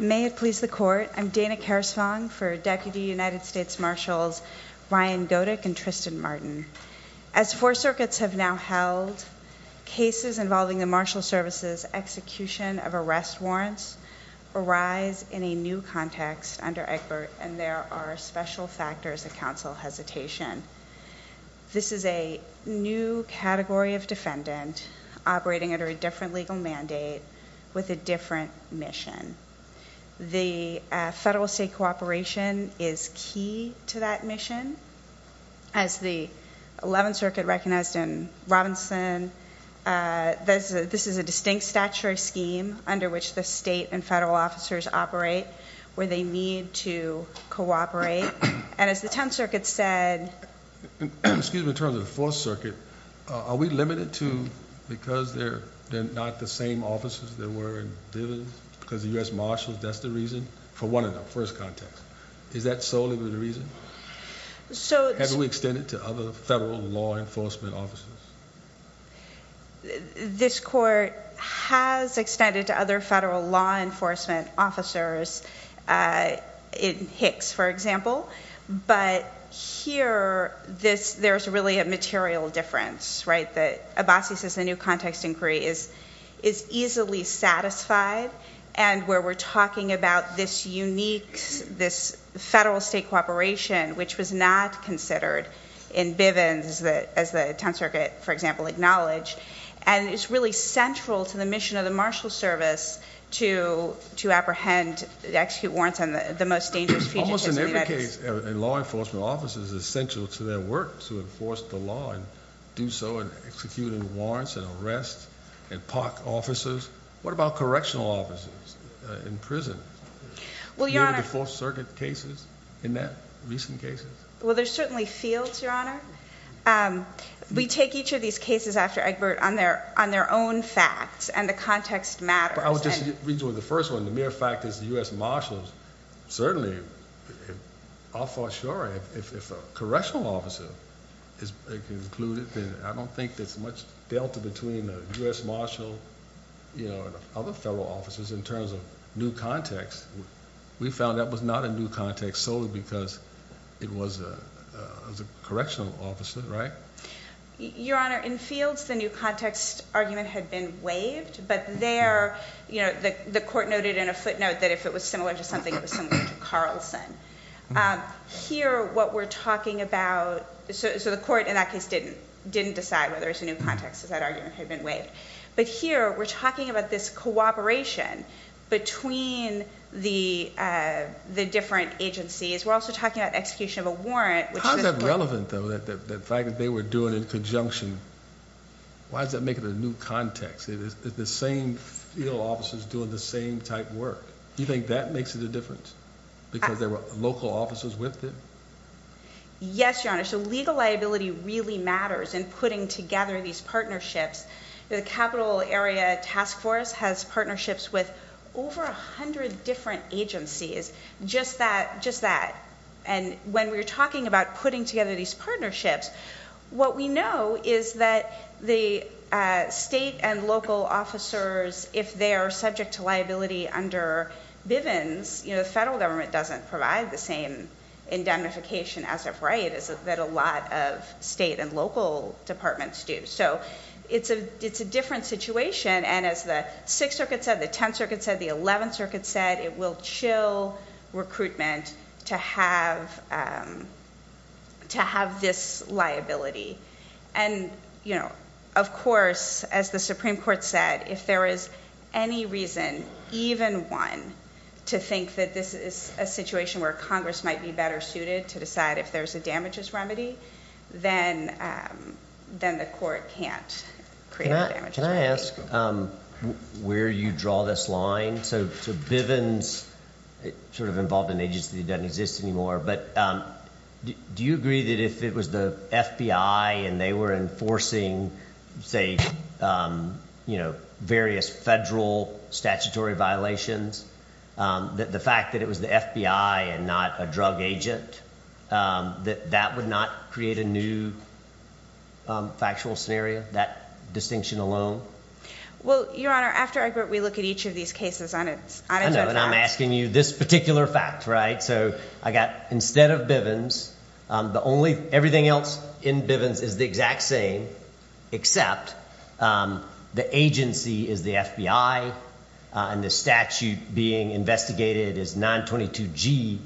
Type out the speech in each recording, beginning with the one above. May it please the Court, I'm Dana Karasvong for Deputy United States Marshals Ryan Godec and Tristan Martin. As four circuits have now held, cases involving the Marshal Service's execution of arrest warrants arise in a new context under Egbert, and there are special different legal mandate with a different mission. The federal state cooperation is key to that mission. As the 11th Circuit recognized in Robinson, this is a distinct statutory scheme under which the state and federal officers operate where they need to cooperate. And as the 10th Circuit said... Excuse me, in terms of the 4th Circuit, are we limited to because they're not the same officers that were in Divens? Because the U.S. Marshals, that's the reason? For one of them, first context. Is that solely the reason? Have we extended to other federal law enforcement officers? This Court has extended to other federal law enforcement officers in Hicks, for example, but here there's really a material difference, right? Abbasi says the new context inquiry is easily satisfied and where we're talking about this unique, this federal state cooperation, which was not considered in Divens as the 10th Circuit, for example, acknowledged. And it's really central to the mission of the Marshal Service to apprehend, to execute warrants on the most dangerous fugitives. So in every case, law enforcement officers are essential to their work to enforce the law and do so in executing warrants and arrests and park officers. What about correctional officers in prison? Were there 4th Circuit cases in that, recent cases? Well, there's certainly fields, Your Honor. We take each of these cases after Egbert on their own facts and the context matters. But I would just read you the first one, the mere fact that the U.S. Marshals certainly, I'll for sure, if a correctional officer is included, I don't think there's much delta between the U.S. Marshal, you know, and other federal officers in terms of new context. We found that was not a new context solely because it was a correctional officer, right? Your Honor, in fields, the new context argument had been waived, but there, you know, the court noted in a footnote that if it was similar to something, it was similar to Carlson. Here, what we're talking about, so the court in that case didn't decide whether it's a new context, because that argument had been waived. But here, we're talking about this cooperation between the different agencies. We're also talking about execution of a warrant, which is- How is that relevant, though, that the fact that they were doing it in conjunction, why does that make it a new context? It's the same field officers doing the same type work. Do you think that makes it a difference? Because there were local officers with them? Yes, Your Honor. So legal liability really matters in putting together these partnerships. The Capital Area Task Force has partnerships with over a hundred different agencies, just that, just that. And when we're talking about putting together these partnerships, what we know is that the state and local officers, if they are subject to liability under Bivens, you know, the federal government doesn't provide the same indemnification as of right, as that a lot of state and local departments do. So it's a, it's a different situation. And as the Sixth Circuit said, the Tenth Circuit said, the Eleventh Circuit said, it will chill recruitment to have, um, to have this liability. And, you know, of course, as the Supreme Court said, if there is any reason, even one, to think that this is a situation where Congress might be better suited to decide if there's a damages remedy, then, um, then the court can't create a damages remedy. Can you explain? So, so Bivens, it sort of involved an agency that doesn't exist anymore. But, um, do you agree that if it was the FBI and they were enforcing, say, um, you know, various federal statutory violations, um, that the fact that it was the FBI and not a drug agent, um, that that would not create a new, um, factual scenario, that distinction alone? Well, Your Honor, after I agree, we look at each of these cases on its own. And I'm asking you this particular fact, right? So I got instead of Bivens, um, the only, everything else in Bivens is the exact same, except, um, the agency is the FBI, uh, and the statute being investigated is 922 G,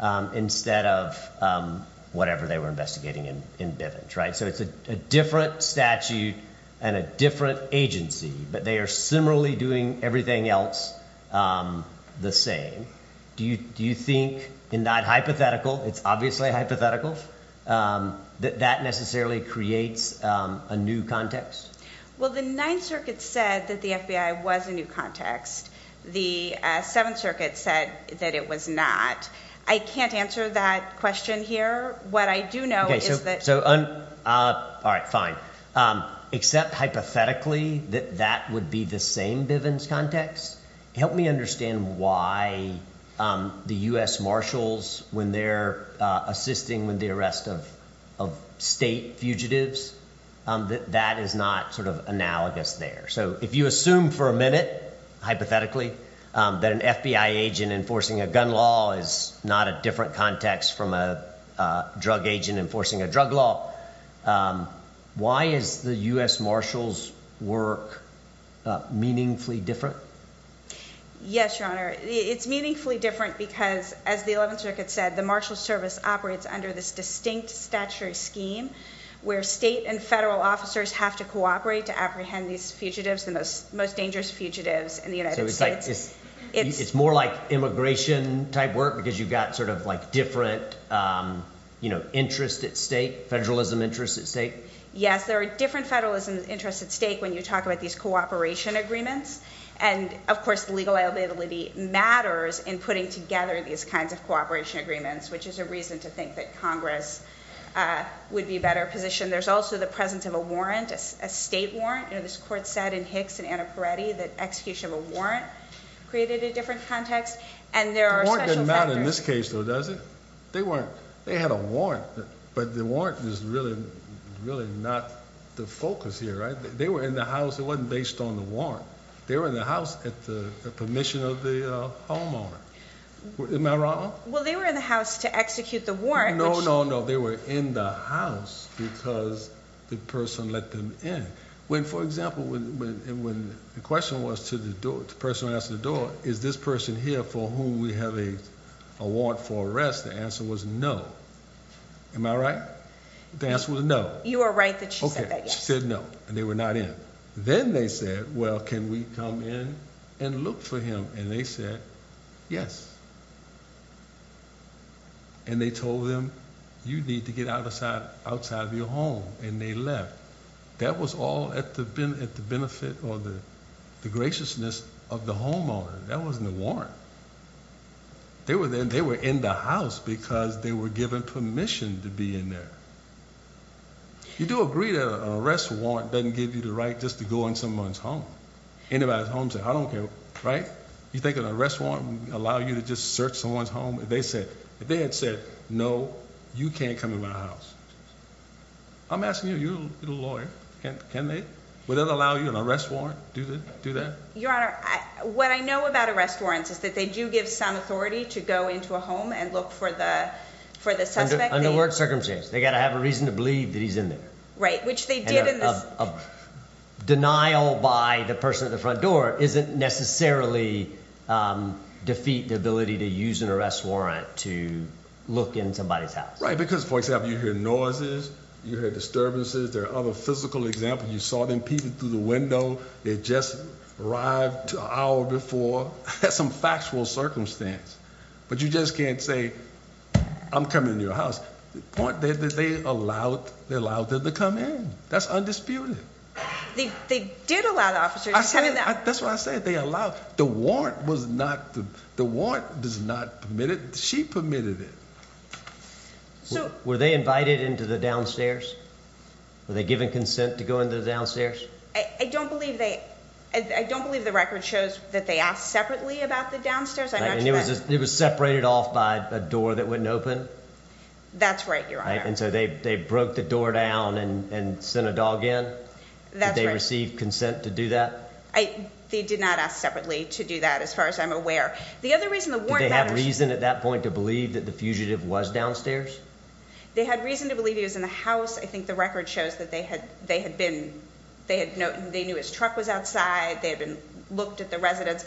um, instead of, um, whatever they were investigating in, in Bivens, right? So it's a different statute and a different agency, but they are similarly doing everything else, um, the same. Do you, do you think in that hypothetical, it's obviously hypothetical, um, that that necessarily creates, um, a new context? Well, the Ninth Circuit said that the FBI was a new context. The, uh, Seventh Circuit said that it was not. I can't answer that question here. What I do know is that, so, uh, uh, all right, fine. Um, except hypothetically that that would be the same Bivens context. Help me understand why, um, the U.S. Marshals when they're, uh, assisting with the arrest of, of state fugitives, um, that that is not sort of analogous there. So if you assume for a minute, hypothetically, um, that an FBI agent enforcing a gun law is not a different context from a, uh, drug agent enforcing a drug law. Um, why is the U.S. Marshals work, uh, meaningfully different? Yes, Your Honor. It's meaningfully different because as the Eleventh Circuit said, the Marshal Service operates under this distinct statutory scheme where state and federal officers have to cooperate to apprehend these fugitives, the most, most dangerous fugitives in the United States. It's more like immigration type work because you've got sort of like different, um, you know, interest at state federalism interests at state. Yes, there are different federalism interests at stake when you talk about these cooperation agreements. And of course the legal liability matters in putting together these kinds of cooperation agreements, which is a reason to think that Congress, uh, would be better positioned. There's also the presence of a warrant, a state warrant. You know, this court said in Nixon and Peretti that execution of a warrant created a different context and there are special factors. The warrant doesn't matter in this case though, does it? They weren't, they had a warrant, but the warrant is really, really not the focus here, right? They were in the house. It wasn't based on the warrant. They were in the house at the permission of the homeowner. Am I wrong? Well, they were in the house to execute the warrant. No, no, no. They were in the house because the person let them in. When, for example, when, when the question was to the door, the person who asked the door, is this person here for whom we have a, a warrant for arrest? The answer was no. Am I right? The answer was no. You are right that she said no and they were not in. Then they said, well, can we come in and look for him? And they said yes. And they told them you need to get outside, outside of your home and they left. That was all at the been at the benefit or the graciousness of the homeowner. That wasn't a warrant. They were there, they were in the house because they were given permission to be in there. You do agree that an arrest warrant doesn't give you the right just to go in someone's home. Anybody's home said, I don't care, right? You think an arrest warrant would allow you to just search someone's home? If they said, if they had said no, you can't come in my house. I'm asking you, you're a lawyer. Can they, would that allow you an arrest warrant? Do they do that? Your Honor, what I know about arrest warrants is that they do give some authority to go into a home and look for the, for the suspect. Under work circumstances, they got to have a reason to believe that he's in there. Right. Which they did in the denial by the person at the front door isn't necessarily, um, defeat the ability to use an arrest warrant to look in somebody's house, right? Because for example, you hear noises, you hear disturbances, there are other physical examples. You saw them peeping through the window. They just arrived to our before some factual circumstance, but you just can't say I'm coming to your house. The point that they allowed, they allowed them to come in. That's undisputed. They did allow the officers. That's what I said. They allowed the warrant was not, the warrant does not permit it. She permitted it. So were they invited into the downstairs? Were they given consent to go into the downstairs? I don't believe they, I don't believe the record shows that they asked separately about the downstairs. I mean, it was separated off by a door that wouldn't open. That's right. You're right. And so they, they broke the door down and, and send a dog in that they received consent to do that. I, they did not ask separately to do that. As far as I'm aware, the other reason that they had reason at that point to believe that the fugitive was downstairs, they had reason to believe he was in the house. I think the record shows that they had, they had been, they had no, they knew his truck was outside. They had been looked at the residents,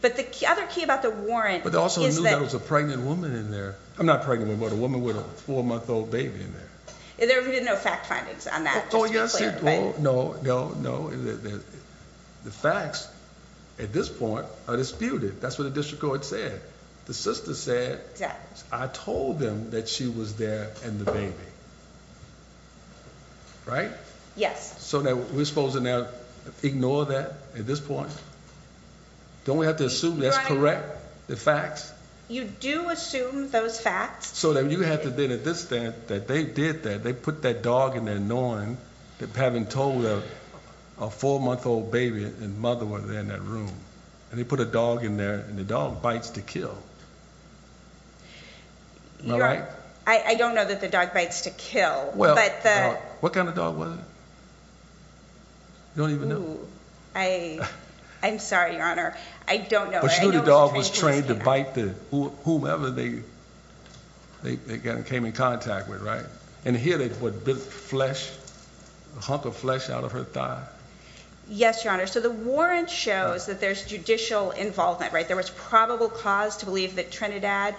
but the other key about the warrant is that it was a pregnant woman in there. I'm not pregnant with a woman with a four month old baby in there. There have been no fact findings on that. No, no, no. The facts at this point are disputed. That's what the district court said. The sister said, I told them that she was there and the baby, right? Yes. So now we're supposed to now ignore that at this point. Don't we have to assume that's correct? The facts you do assume those facts so that you have to then at this stand that they did that, they put that dog in there knowing that having told her a four month old baby and mother was there in that room and they put a dog in there and the dog bites to kill. I don't know that the dog bites to kill. What kind of dog was it? You don't even know. I, I'm sorry, your honor. I don't know. The dog was trained to bite the whomever they, they came in contact with. Right. And here they put flesh, a hunk of flesh out of her thigh. Yes, your honor. So the warrant shows that there's judicial involvement, right? There was probable cause to believe that Trinidad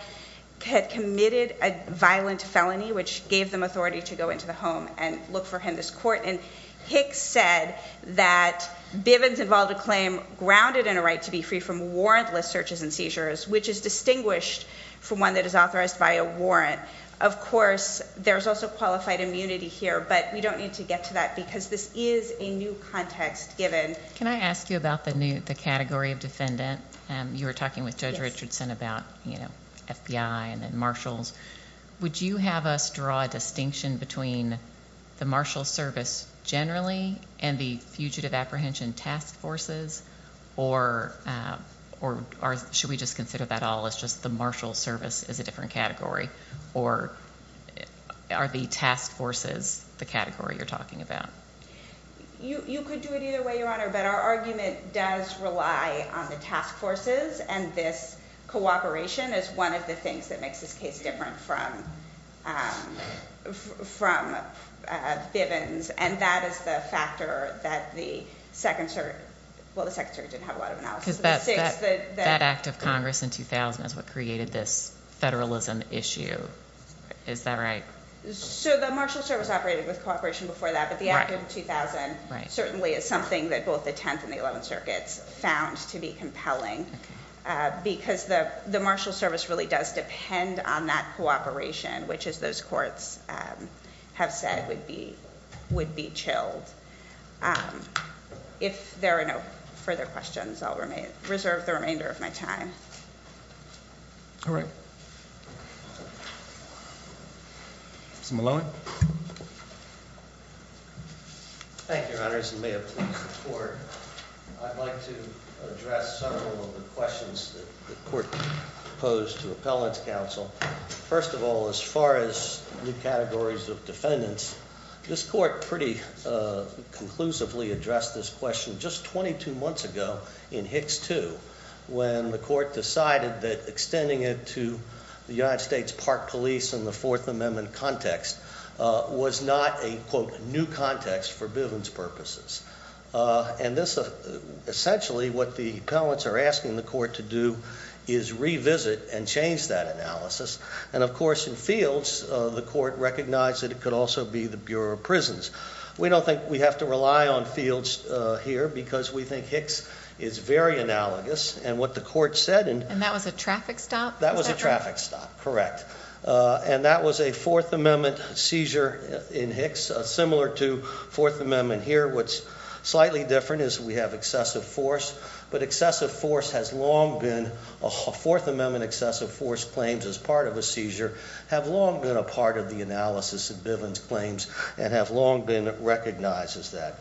had committed a violent felony, which gave them to go into the home and look for him, this court. And Hicks said that Bivens involved a claim grounded in a right to be free from warrantless searches and seizures, which is distinguished from one that is authorized by a warrant. Of course, there's also qualified immunity here, but we don't need to get to that because this is a new context given. Can I ask you about the new, the category of defendant? You were talking with Judge Richardson about, you know, FBI and then between the marshal service generally and the fugitive apprehension task forces, or, or should we just consider that all as just the marshal service is a different category or are the task forces the category you're talking about? You, you could do it either way, your honor, but our argument does rely on the task forces and this cooperation is one of the from Bivens and that is the factor that the second circuit, well, the second circuit didn't have a lot of analysis. That act of Congress in 2000 is what created this federalism issue. Is that right? So the marshal service operated with cooperation before that, but the act of 2000 certainly is something that both the 10th and the 11th circuits found to be compelling because the, marshal service really does depend on that cooperation, which is those courts have said would be, would be chilled. Um, if there are no further questions, I'll remain reserve the remainder of my time. All right. Some alone. Thank you, your honors. And may I please support. I'd like to address several of the questions that the court proposed to appellants council. First of all, as far as new categories of defendants, this court pretty, uh, conclusively addressed this question just 22 months ago in Hicks too, when the court decided that extending it to the United States park police and the fourth amendment context, uh, was not a quote context for billings purposes. Uh, and this, uh, essentially what the pellets are asking the court to do is revisit and change that analysis. And of course, in fields, uh, the court recognized that it could also be the Bureau of prisons. We don't think we have to rely on fields here because we think Hicks is very analogous and what the court said. And that was a traffic stop. That was fourth amendment seizure in Hicks, similar to fourth amendment here. What's slightly different is we have excessive force, but excessive force has long been a fourth amendment. Excessive force claims as part of a seizure have long been a part of the analysis of Billings claims and have long been recognized as that.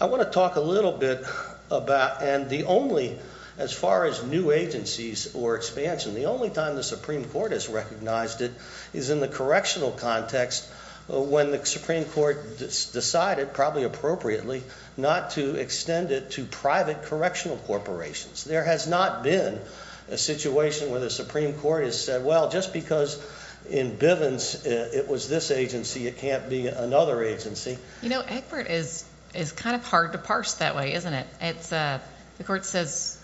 I want to talk a little bit about, and the only, as far as new agencies or expansion, the only time the Supreme Court has recognized it is in the correctional context. When the Supreme Court decided probably appropriately not to extend it to private correctional corporations, there has not been a situation where the Supreme Court has said, well, just because in Bivens it was this agency, it can't be another agency. You know, Egbert is, is kind of hard to parse that way, isn't it? It's a, the court says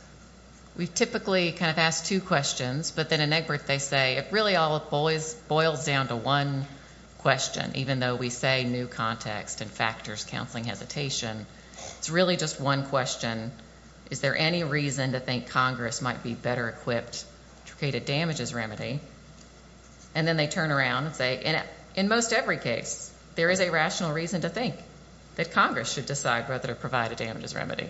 we've typically kind of asked two questions, but then in Egbert they say it really all boils down to one question, even though we say new context and factors counseling hesitation. It's really just one question. Is there any reason to think Congress might be better equipped to create a damages remedy? And then they turn around and say, in most every case, there is a rational reason to think that Congress should decide whether to provide a damages remedy.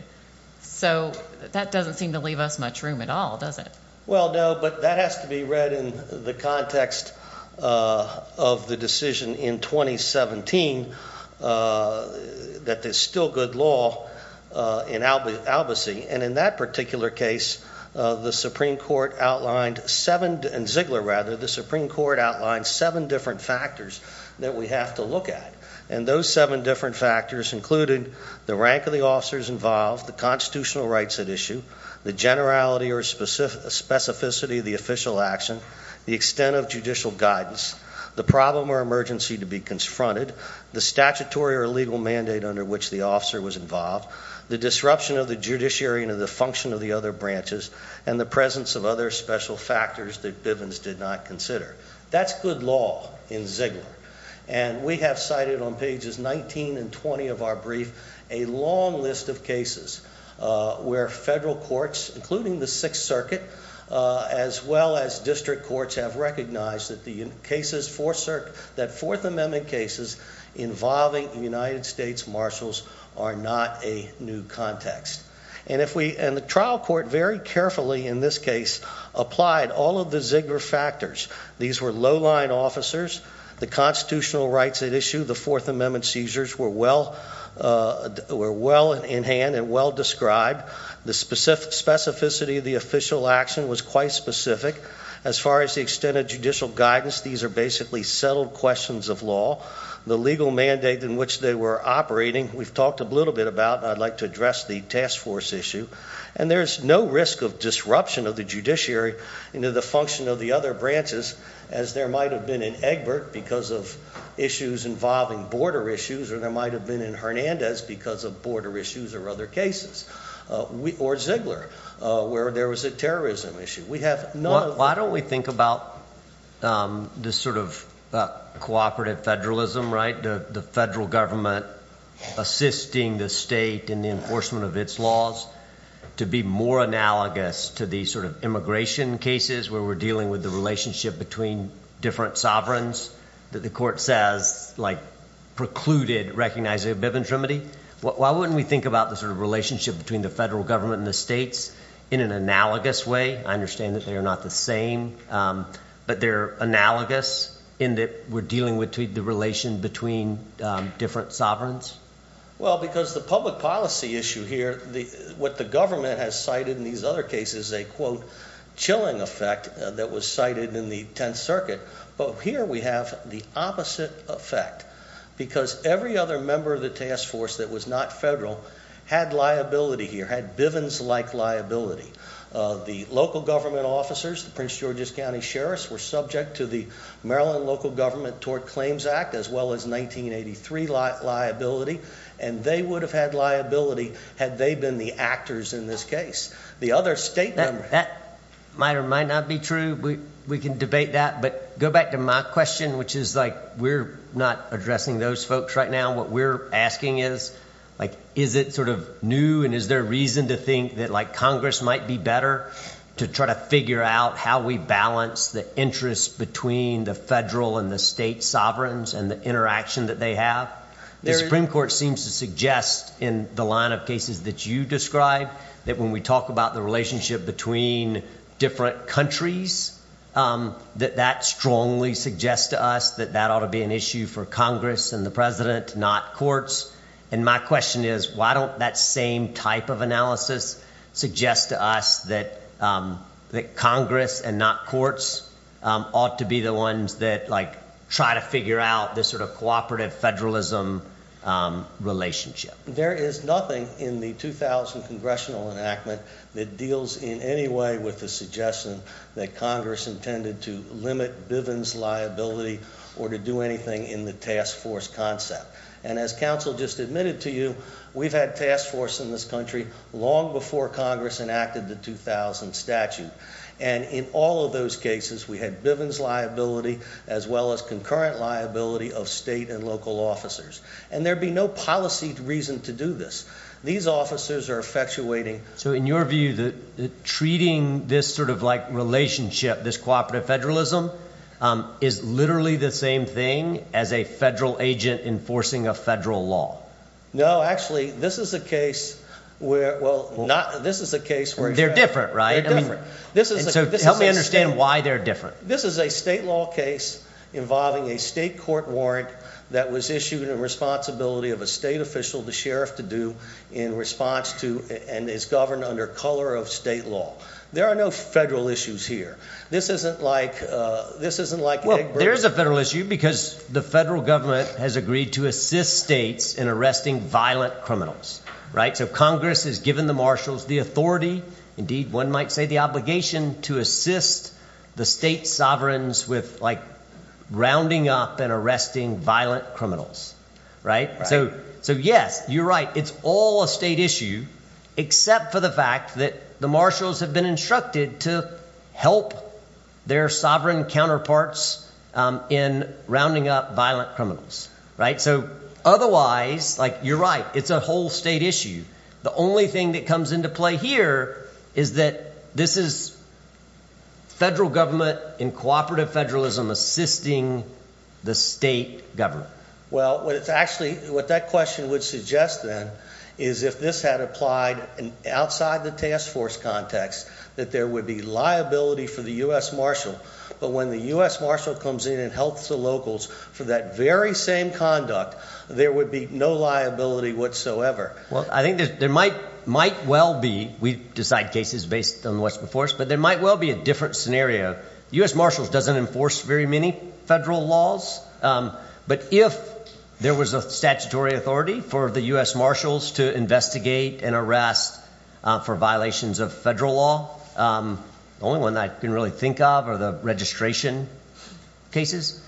So that doesn't seem to leave us much room at all, does it? Well, no, but that has to be read in the context of the decision in 2017 that there's still good law in Albusy. And in that particular case, the Supreme Court outlined seven, in Ziegler rather, the Supreme Court outlined seven different factors that we have to look at. And those seven different factors included the rank of the officers involved, the constitutional rights at issue, the generality or specificity of the official action, the extent of judicial guidance, the problem or emergency to be confronted, the statutory or legal mandate under which the officer was involved, the disruption of the judiciary and of the function of the other branches, and the presence of other special factors that Bivens did not consider. That's good law in Ziegler. And we have cited on pages 19 and 20 of our brief a long list of cases where federal courts, including the Sixth Circuit, as well as district courts, have recognized that the cases, that Fourth Amendment cases involving United States marshals are not a new context. And if we, and the trial court very carefully in this case, applied all of the Ziegler factors, these were low-lying officers, the constitutional rights at issue, the Fourth Amendment seizures were well in hand and well described, the specificity of the official action was quite specific. As far as the extent of judicial guidance, these are basically settled questions of law. The legal mandate in which they were operating, we've talked a little bit about, and I'd like to address the task force issue. And there's no risk of disruption of the judiciary into the of the other branches, as there might have been in Egbert because of issues involving border issues, or there might have been in Hernandez because of border issues or other cases. Or Ziegler, where there was a terrorism issue. Why don't we think about this sort of cooperative federalism, right? The federal government assisting the state in the enforcement of its laws to be more analogous to the sort of immigration cases where we're dealing with the relationship between different sovereigns that the court says, like, precluded recognizing of biventrimity. Why wouldn't we think about the sort of relationship between the federal government and the states in an analogous way? I understand that they are not the same, but they're analogous in that we're dealing with the relation between different sovereigns. Well, because the public policy issue here, what the government has cited in these other cases, a quote, chilling effect that was cited in the Tenth Circuit. But here we have the opposite effect, because every other member of the task force that was not federal had liability here, had Bivens-like liability. The local government officers, the Prince George's County Sheriffs, were subject to the Maryland Local Government Tort Claims Act, as well as 1983 liability. And they would have had liability had they been the actors in this case. The other state members. That might or might not be true. We can debate that. But go back to my question, which is like, we're not addressing those folks right now. What we're asking is, like, is it sort of new? And is there a reason to think that, like, Congress might be better to try to figure out how we balance the interests between the federal and the state sovereigns and the interaction that they have? The Supreme Court seems to suggest in the line of cases that you describe, that when we talk about the relationship between different countries, that that strongly suggests to us that that ought to be an issue for Congress and the president, not courts. And my question is, why don't that same type of analysis suggest to us that Congress and not courts ought to be the that, like, try to figure out this sort of cooperative federalism relationship? There is nothing in the 2000 congressional enactment that deals in any way with the suggestion that Congress intended to limit Bivens liability or to do anything in the task force concept. And as counsel just admitted to you, we've had task force in this country long before Congress enacted the 2000 statute. And in all of those cases, we had Bivens liability, as well as concurrent liability of state and local officers. And there'd be no policy reason to do this. These officers are effectuating. So in your view, that treating this sort of like relationship, this cooperative federalism, is literally the same thing as a federal agent enforcing a federal law? No, actually, this is a case where well, not this is a case where they're different, right? I mean, this is help me understand why they're different. This is a state law case involving a state court warrant that was issued in responsibility of a state official, the sheriff to do in response to and is governed under color of state law. There are no federal issues here. This isn't like, this isn't like, there's a federal issue because the federal government has agreed to assist states in violent criminals, right? So Congress has given the marshals the authority. Indeed, one might say the obligation to assist the state sovereigns with like, rounding up and arresting violent criminals, right? So, so yes, you're right. It's all a state issue, except for the fact that the marshals have been instructed to help their sovereign counterparts in rounding up violent criminals, right? So otherwise, like you're right, it's a whole state issue. The only thing that comes into play here is that this is federal government in cooperative federalism, assisting the state government. Well, what it's actually, what that question would suggest then is if this had applied in outside the task force context, that there would be liability for the U.S. Marshall. But when the U.S. Marshall comes in and helps the locals for that very same conduct, there would be no liability whatsoever. Well, I think there might, might well be, we decide cases based on what's before us, but there might well be a different scenario. U.S. Marshalls doesn't enforce very many federal laws. But if there was a statutory authority for the U.S. Marshals to investigate an arrest for violations of federal law, the only one I can really think of are the registration cases.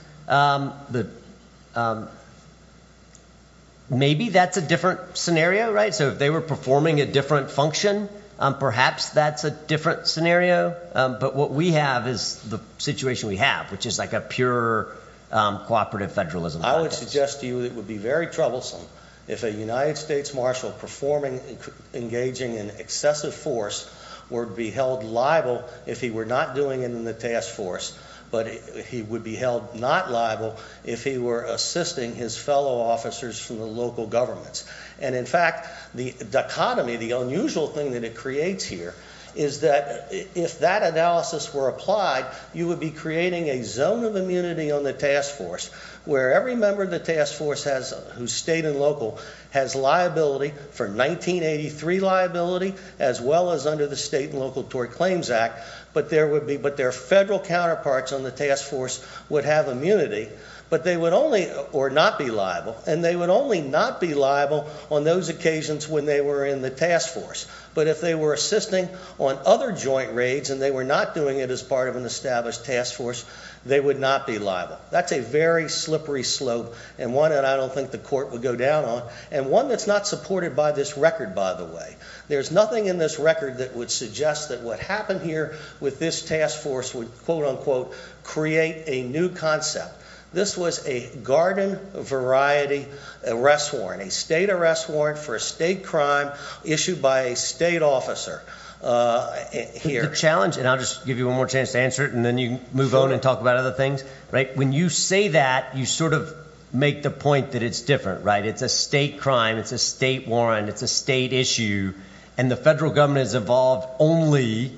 Maybe that's a different scenario, right? So if they were performing a different function, perhaps that's a different scenario. But what we have is the situation we have, which is like a pure cooperative federalism. I would suggest to you that it would be very troublesome if a United States Marshall performing, engaging in excessive force would be held liable if he were not doing it in the task force, but he would be held not liable if he were assisting his fellow officers from the local governments. And in fact, the dichotomy, the unusual thing that it creates here is that if that analysis were applied, you would be creating a zone of immunity on the task force where every task force has, whose state and local has liability for 1983 liability as well as under the state and local tort claims act. But there would be, but their federal counterparts on the task force would have immunity, but they would only or not be liable. And they would only not be liable on those occasions when they were in the task force. But if they were assisting on other joint raids and they were not doing it as part of an established task force, they would not be liable. That's a very slippery slope and one that I don't think the court would go down on. And one that's not supported by this record, by the way, there's nothing in this record that would suggest that what happened here with this task force would quote unquote create a new concept. This was a garden variety arrest warrant, a state arrest warrant for a state crime issued by a state officer, uh, here challenge. And I'll just give you one more chance to answer it. And then you move on and talk about other things, right? When you say that you sort of make the point that it's different, right? It's a state crime. It's a state warrant. It's a state issue. And the federal government has evolved only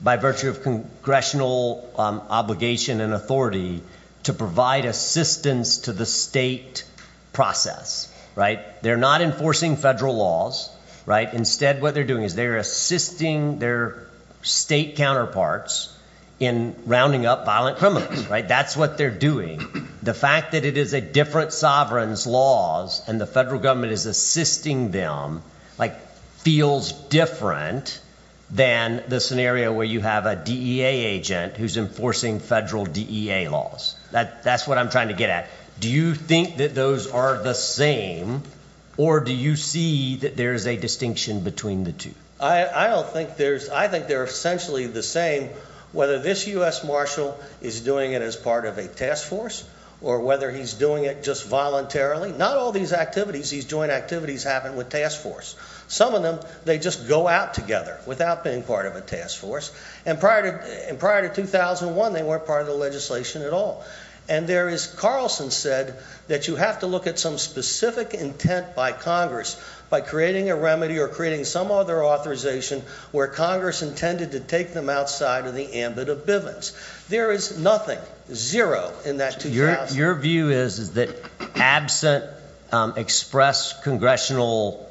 by virtue of congressional obligation and authority to provide assistance to the state process, right? They're not enforcing federal laws, right? Instead, what they're doing is they're assisting their state counterparts in rounding up violent criminals, right? That's what they're doing. The fact that it is a different sovereign's laws and the federal government is assisting them like feels different than the scenario where you have a DEA agent who's enforcing federal DEA laws. That that's what I'm trying to get at. Do you think that those are the same or do you see that there is a distinction between the two? I don't think there's, I think they're essentially the same. Whether this U. S. Marshall is doing it as part of a task force or whether he's doing it just voluntarily, not all these activities, these joint activities happen with task force. Some of them, they just go out together without being part of a task force. And prior to prior to 2001, they weren't part of the legislation at all. And there is, Carlson said that you have to look at some specific intent by Congress, by creating a remedy or creating some other authorization where Congress intended to take them outside of the ambit of Bivens. There is nothing zero in that. Your view is that absent express congressional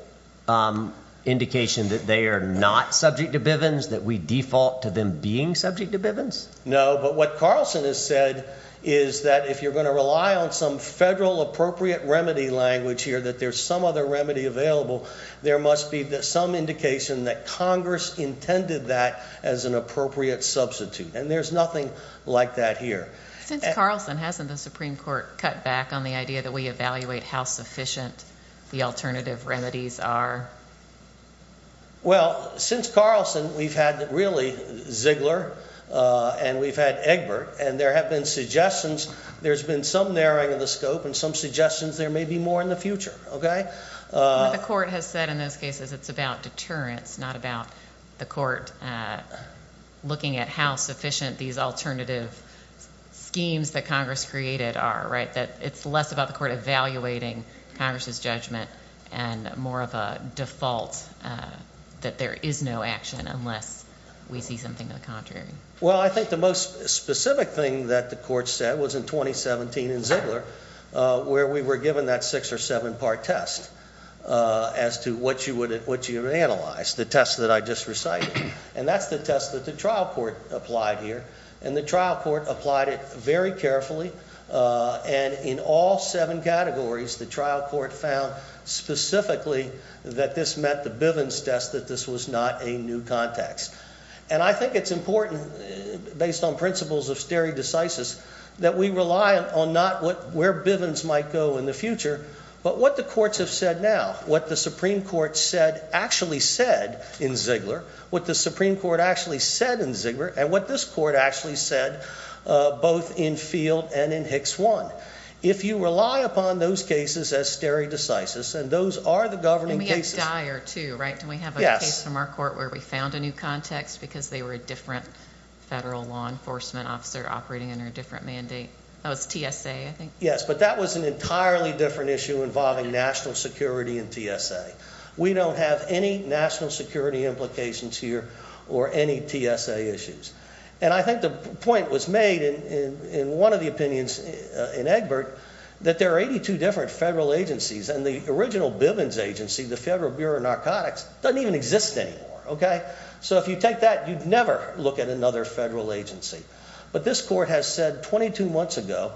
indication that they are not subject to Bivens, that we default to them being subject to Bivens? No. But what Carlson has said is that if you're going to rely on some federal appropriate remedy language here, that there's some other remedy available, there must be some indication that Congress intended that as an appropriate substitute. And there's nothing like that here. Since Carlson hasn't the Supreme Court cut back on the idea that we evaluate how sufficient the alternative remedies are? Well, since Carlson, we've had really Ziegler and we've had Egbert, and there have been suggestions. There's been some narrowing of the scope and some suggestions there may be more in the future. Okay. What the court has said in those cases, it's about deterrence, not about the court looking at how sufficient these alternative schemes that created are, right? That it's less about the court evaluating Congress's judgment and more of a default that there is no action unless we see something to the contrary. Well, I think the most specific thing that the court said was in 2017 in Ziegler where we were given that six or seven part test as to what you would analyze, the test that I just recited. And that's the test that trial court applied here. And the trial court applied it very carefully. And in all seven categories, the trial court found specifically that this met the Bivens test, that this was not a new context. And I think it's important based on principles of stare decisis that we rely on not where Bivens might go in the future, but what the courts have said now, what the Supreme Court said actually said in Ziegler, what the Supreme Court actually said in Ziegler and what this court actually said, uh, both in field and in Hicks one. If you rely upon those cases as stare decisis, and those are the governing cases dire too, right? Do we have a case from our court where we found a new context because they were a different federal law enforcement officer operating under a different mandate? That was T. S. A. I think. Yes. But that was an entirely different issue involving national security and T. S. A. We don't have any national security implications here or any T. S. A. Issues. And I think the point was made in one of the opinions in Egbert that there are 82 different federal agencies and the original Bivens agency, the Federal Bureau of Narcotics doesn't even exist anymore. Okay? So if you take that, you'd never look at another federal agency. But this court has said 22 months ago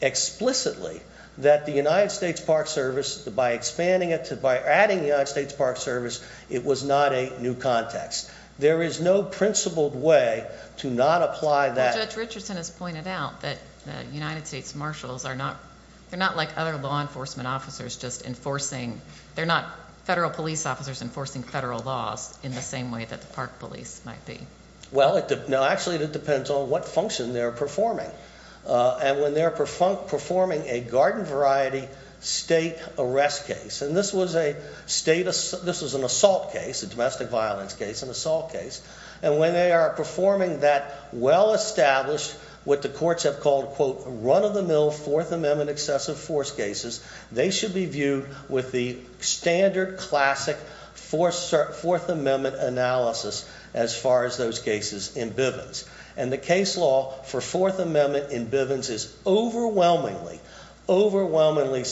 explicitly that the United States Park Service by expanding it to by adding the United States Park Service, it was not a new context. There is no principled way to not apply that. Judge Richardson has pointed out that the United States marshals are not. They're not like other law enforcement officers just enforcing. They're not federal police officers enforcing federal laws in the same way that the park police might be. Well, no, actually, it depends on what function they're performing on when they're performing a garden variety state arrest case. And this was a status. This was an assault case, a domestic violence case, an assault case. And when they are performing that well established what the courts have called quote run of the mill Fourth Amendment excessive force cases, they should be viewed with the standard classic fourth amendment analysis as far as those cases in Bivens. And the case law for Fourth Amendment in Bivens is overwhelmingly, overwhelmingly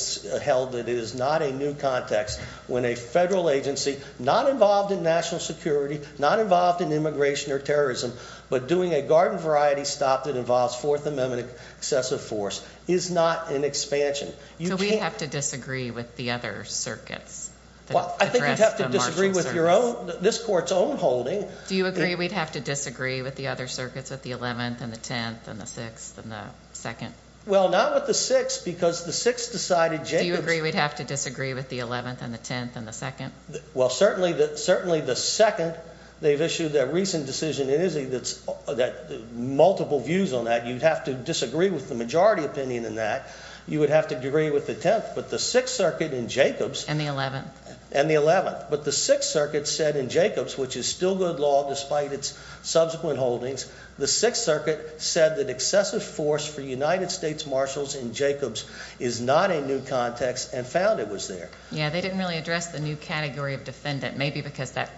held that it is not a new context when a federal agency not involved in national security, not involved in immigration or terrorism, but doing a garden variety stop that involves Fourth Amendment excessive force is not an expansion. You have to disagree with the other circuits. Well, I think you have to disagree with your own this court's own holding. Do you agree we'd have to disagree with the other circuits at the 11th and the 10th and the 6th and the 2nd? Well, not with the six because the six decided. Do you agree we'd have to disagree with the 11th and the 10th and the 2nd? Well, certainly that certainly the second they've issued their recent decision. It is a that's that multiple views on that. You'd have to disagree with the majority opinion in that you would have to agree with the 10th. But the Sixth Circuit in Jacobs and the 11th and the 11th. But the Sixth Circuit said in Jacobs, which is still good law despite its subsequent holdings. The Sixth Circuit said that excessive force for United States Marshals in Jacobs is not a new context and found it was there. Yeah, they didn't really address the new category of defendant, maybe because that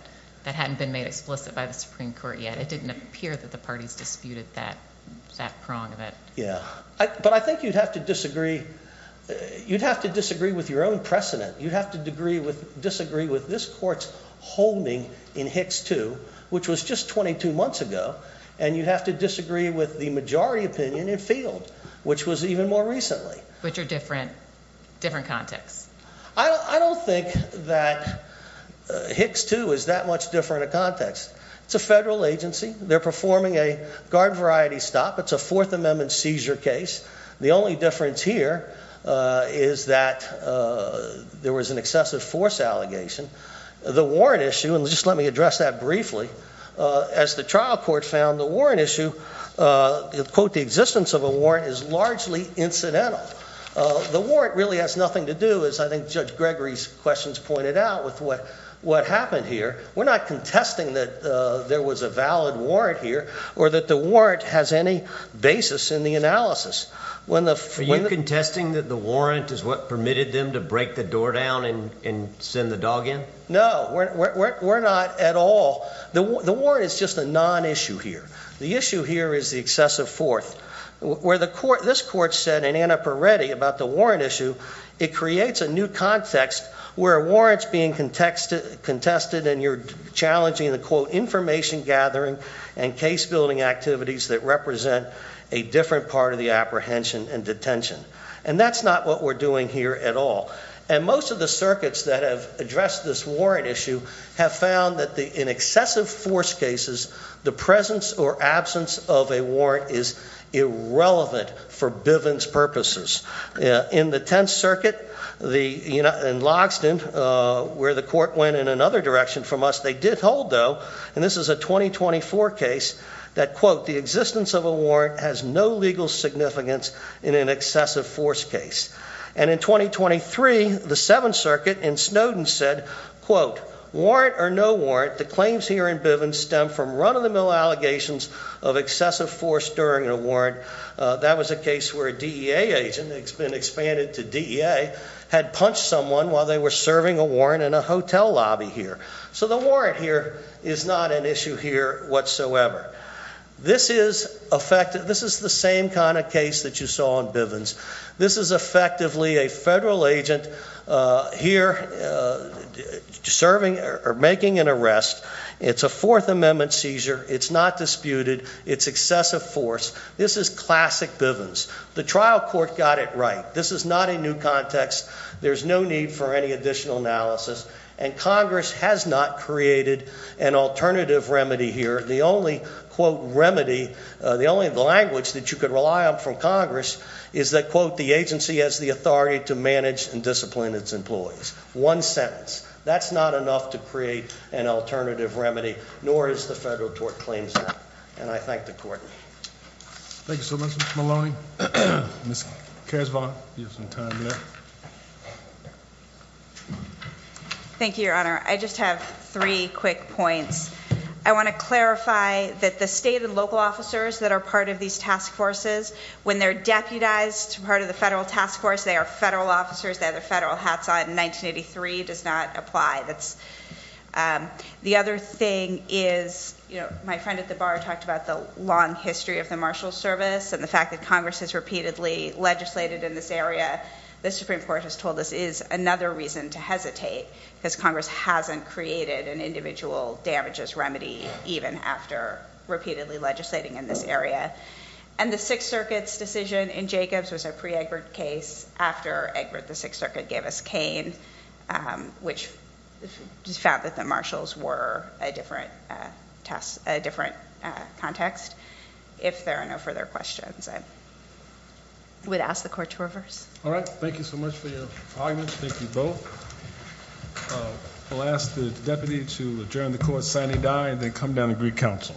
that hadn't been made explicit by the Supreme Court yet. It didn't appear that the parties disputed that that prong of it. Yeah, but I think you'd have to disagree. You'd have to disagree with your own precedent. You'd have to degree with disagree with this court's holding in Hicks 2, which was just 22 months ago, and you'd have to disagree with the majority opinion in Field, which was even more recently. Which are different, different contexts. I don't think that Hicks 2 is that much different a context. It's a federal agency. They're performing a guard variety stop. It's a Fourth Amendment seizure case. The only difference here is that there was an excessive force allegation. The warrant issue, and just let me address that briefly, as the trial court found the warrant issue, quote, the existence of a warrant is largely incidental. The warrant really has nothing to do, as I think Judge Gregory's questions pointed out, with what happened here. We're not contesting that there was a valid warrant here or that the warrant has any basis in the analysis. Are you contesting that the warrant is what permitted them to break the door down and send the dog in? No. We're not at all. The warrant is just a non-issue here. The issue here is the excessive force. Where this court said in Annapurna Reddy about the warrant issue, it creates a new context where a warrant's being contested and you're challenging the, quote, information gathering and case building activities that represent a different part of the apprehension and detention. And that's not what we're doing here at all. And most of the circuits that have addressed this warrant issue have found that in excessive force cases, the presence or absence of a warrant is irrelevant for Bivens purposes. In the Tenth Circuit, in Logsdon, where the court went in another direction from us, they did hold, though, and this is a 2024 case, that, quote, the existence of a warrant has no legal significance in an excessive force case. And in 2023, the Seventh Circuit in Snowden said, quote, warrant or no warrant, the claims here in Bivens stem from run-of-the-mill allegations of excessive force during a warrant. That was a case where a DEA agent, it's been expanded to DEA, had punched someone while they were serving a warrant in a hotel lobby here. So the warrant here is not an issue here whatsoever. This is effective. This is the same kind of case that you saw in Bivens. This is effectively a federal agent here serving or making an arrest. It's a Fourth Amendment seizure. It's not disputed. It's excessive force. This is classic Bivens. The trial court got it right. This is not a new context. There's no need for any additional analysis. And Congress has not created an alternative remedy here. The only, quote, remedy, the only language that you could rely on from Congress is that, quote, the agency has the authority to manage and discipline its employees. One sentence. That's not enough to create an alternative remedy, nor is the federal court claims that. And I thank the court. Thank you so much, Mr. Maloney. Ms. Casvant, you have some time there. Thank you, Your Honor. I just have three quick points. I want to clarify that the state and local officers that are part of these task forces, when they're deputized to part of the federal task force, they are federal officers. They have their federal hats on. 1983 does not apply. The other thing is, you know, my friend at the bar talked about the long history of the Marshals Service and the fact that Congress has repeatedly legislated in this area. The Supreme Court has told us is another reason to hesitate because Congress hasn't created an individual damages remedy even after repeatedly legislating in this area. And the Sixth Circuit's decision in Jacobs was a pre-Egbert case after Egbert the Sixth Circuit gave us Kane, which found that the marshals were a different task, a different context. If there are no further questions, I would ask the court to reverse. All right. Thank you so much for your arguments. Thank you both. I'll ask the deputy to adjourn the court, sign and die, and then come down and greet counsel.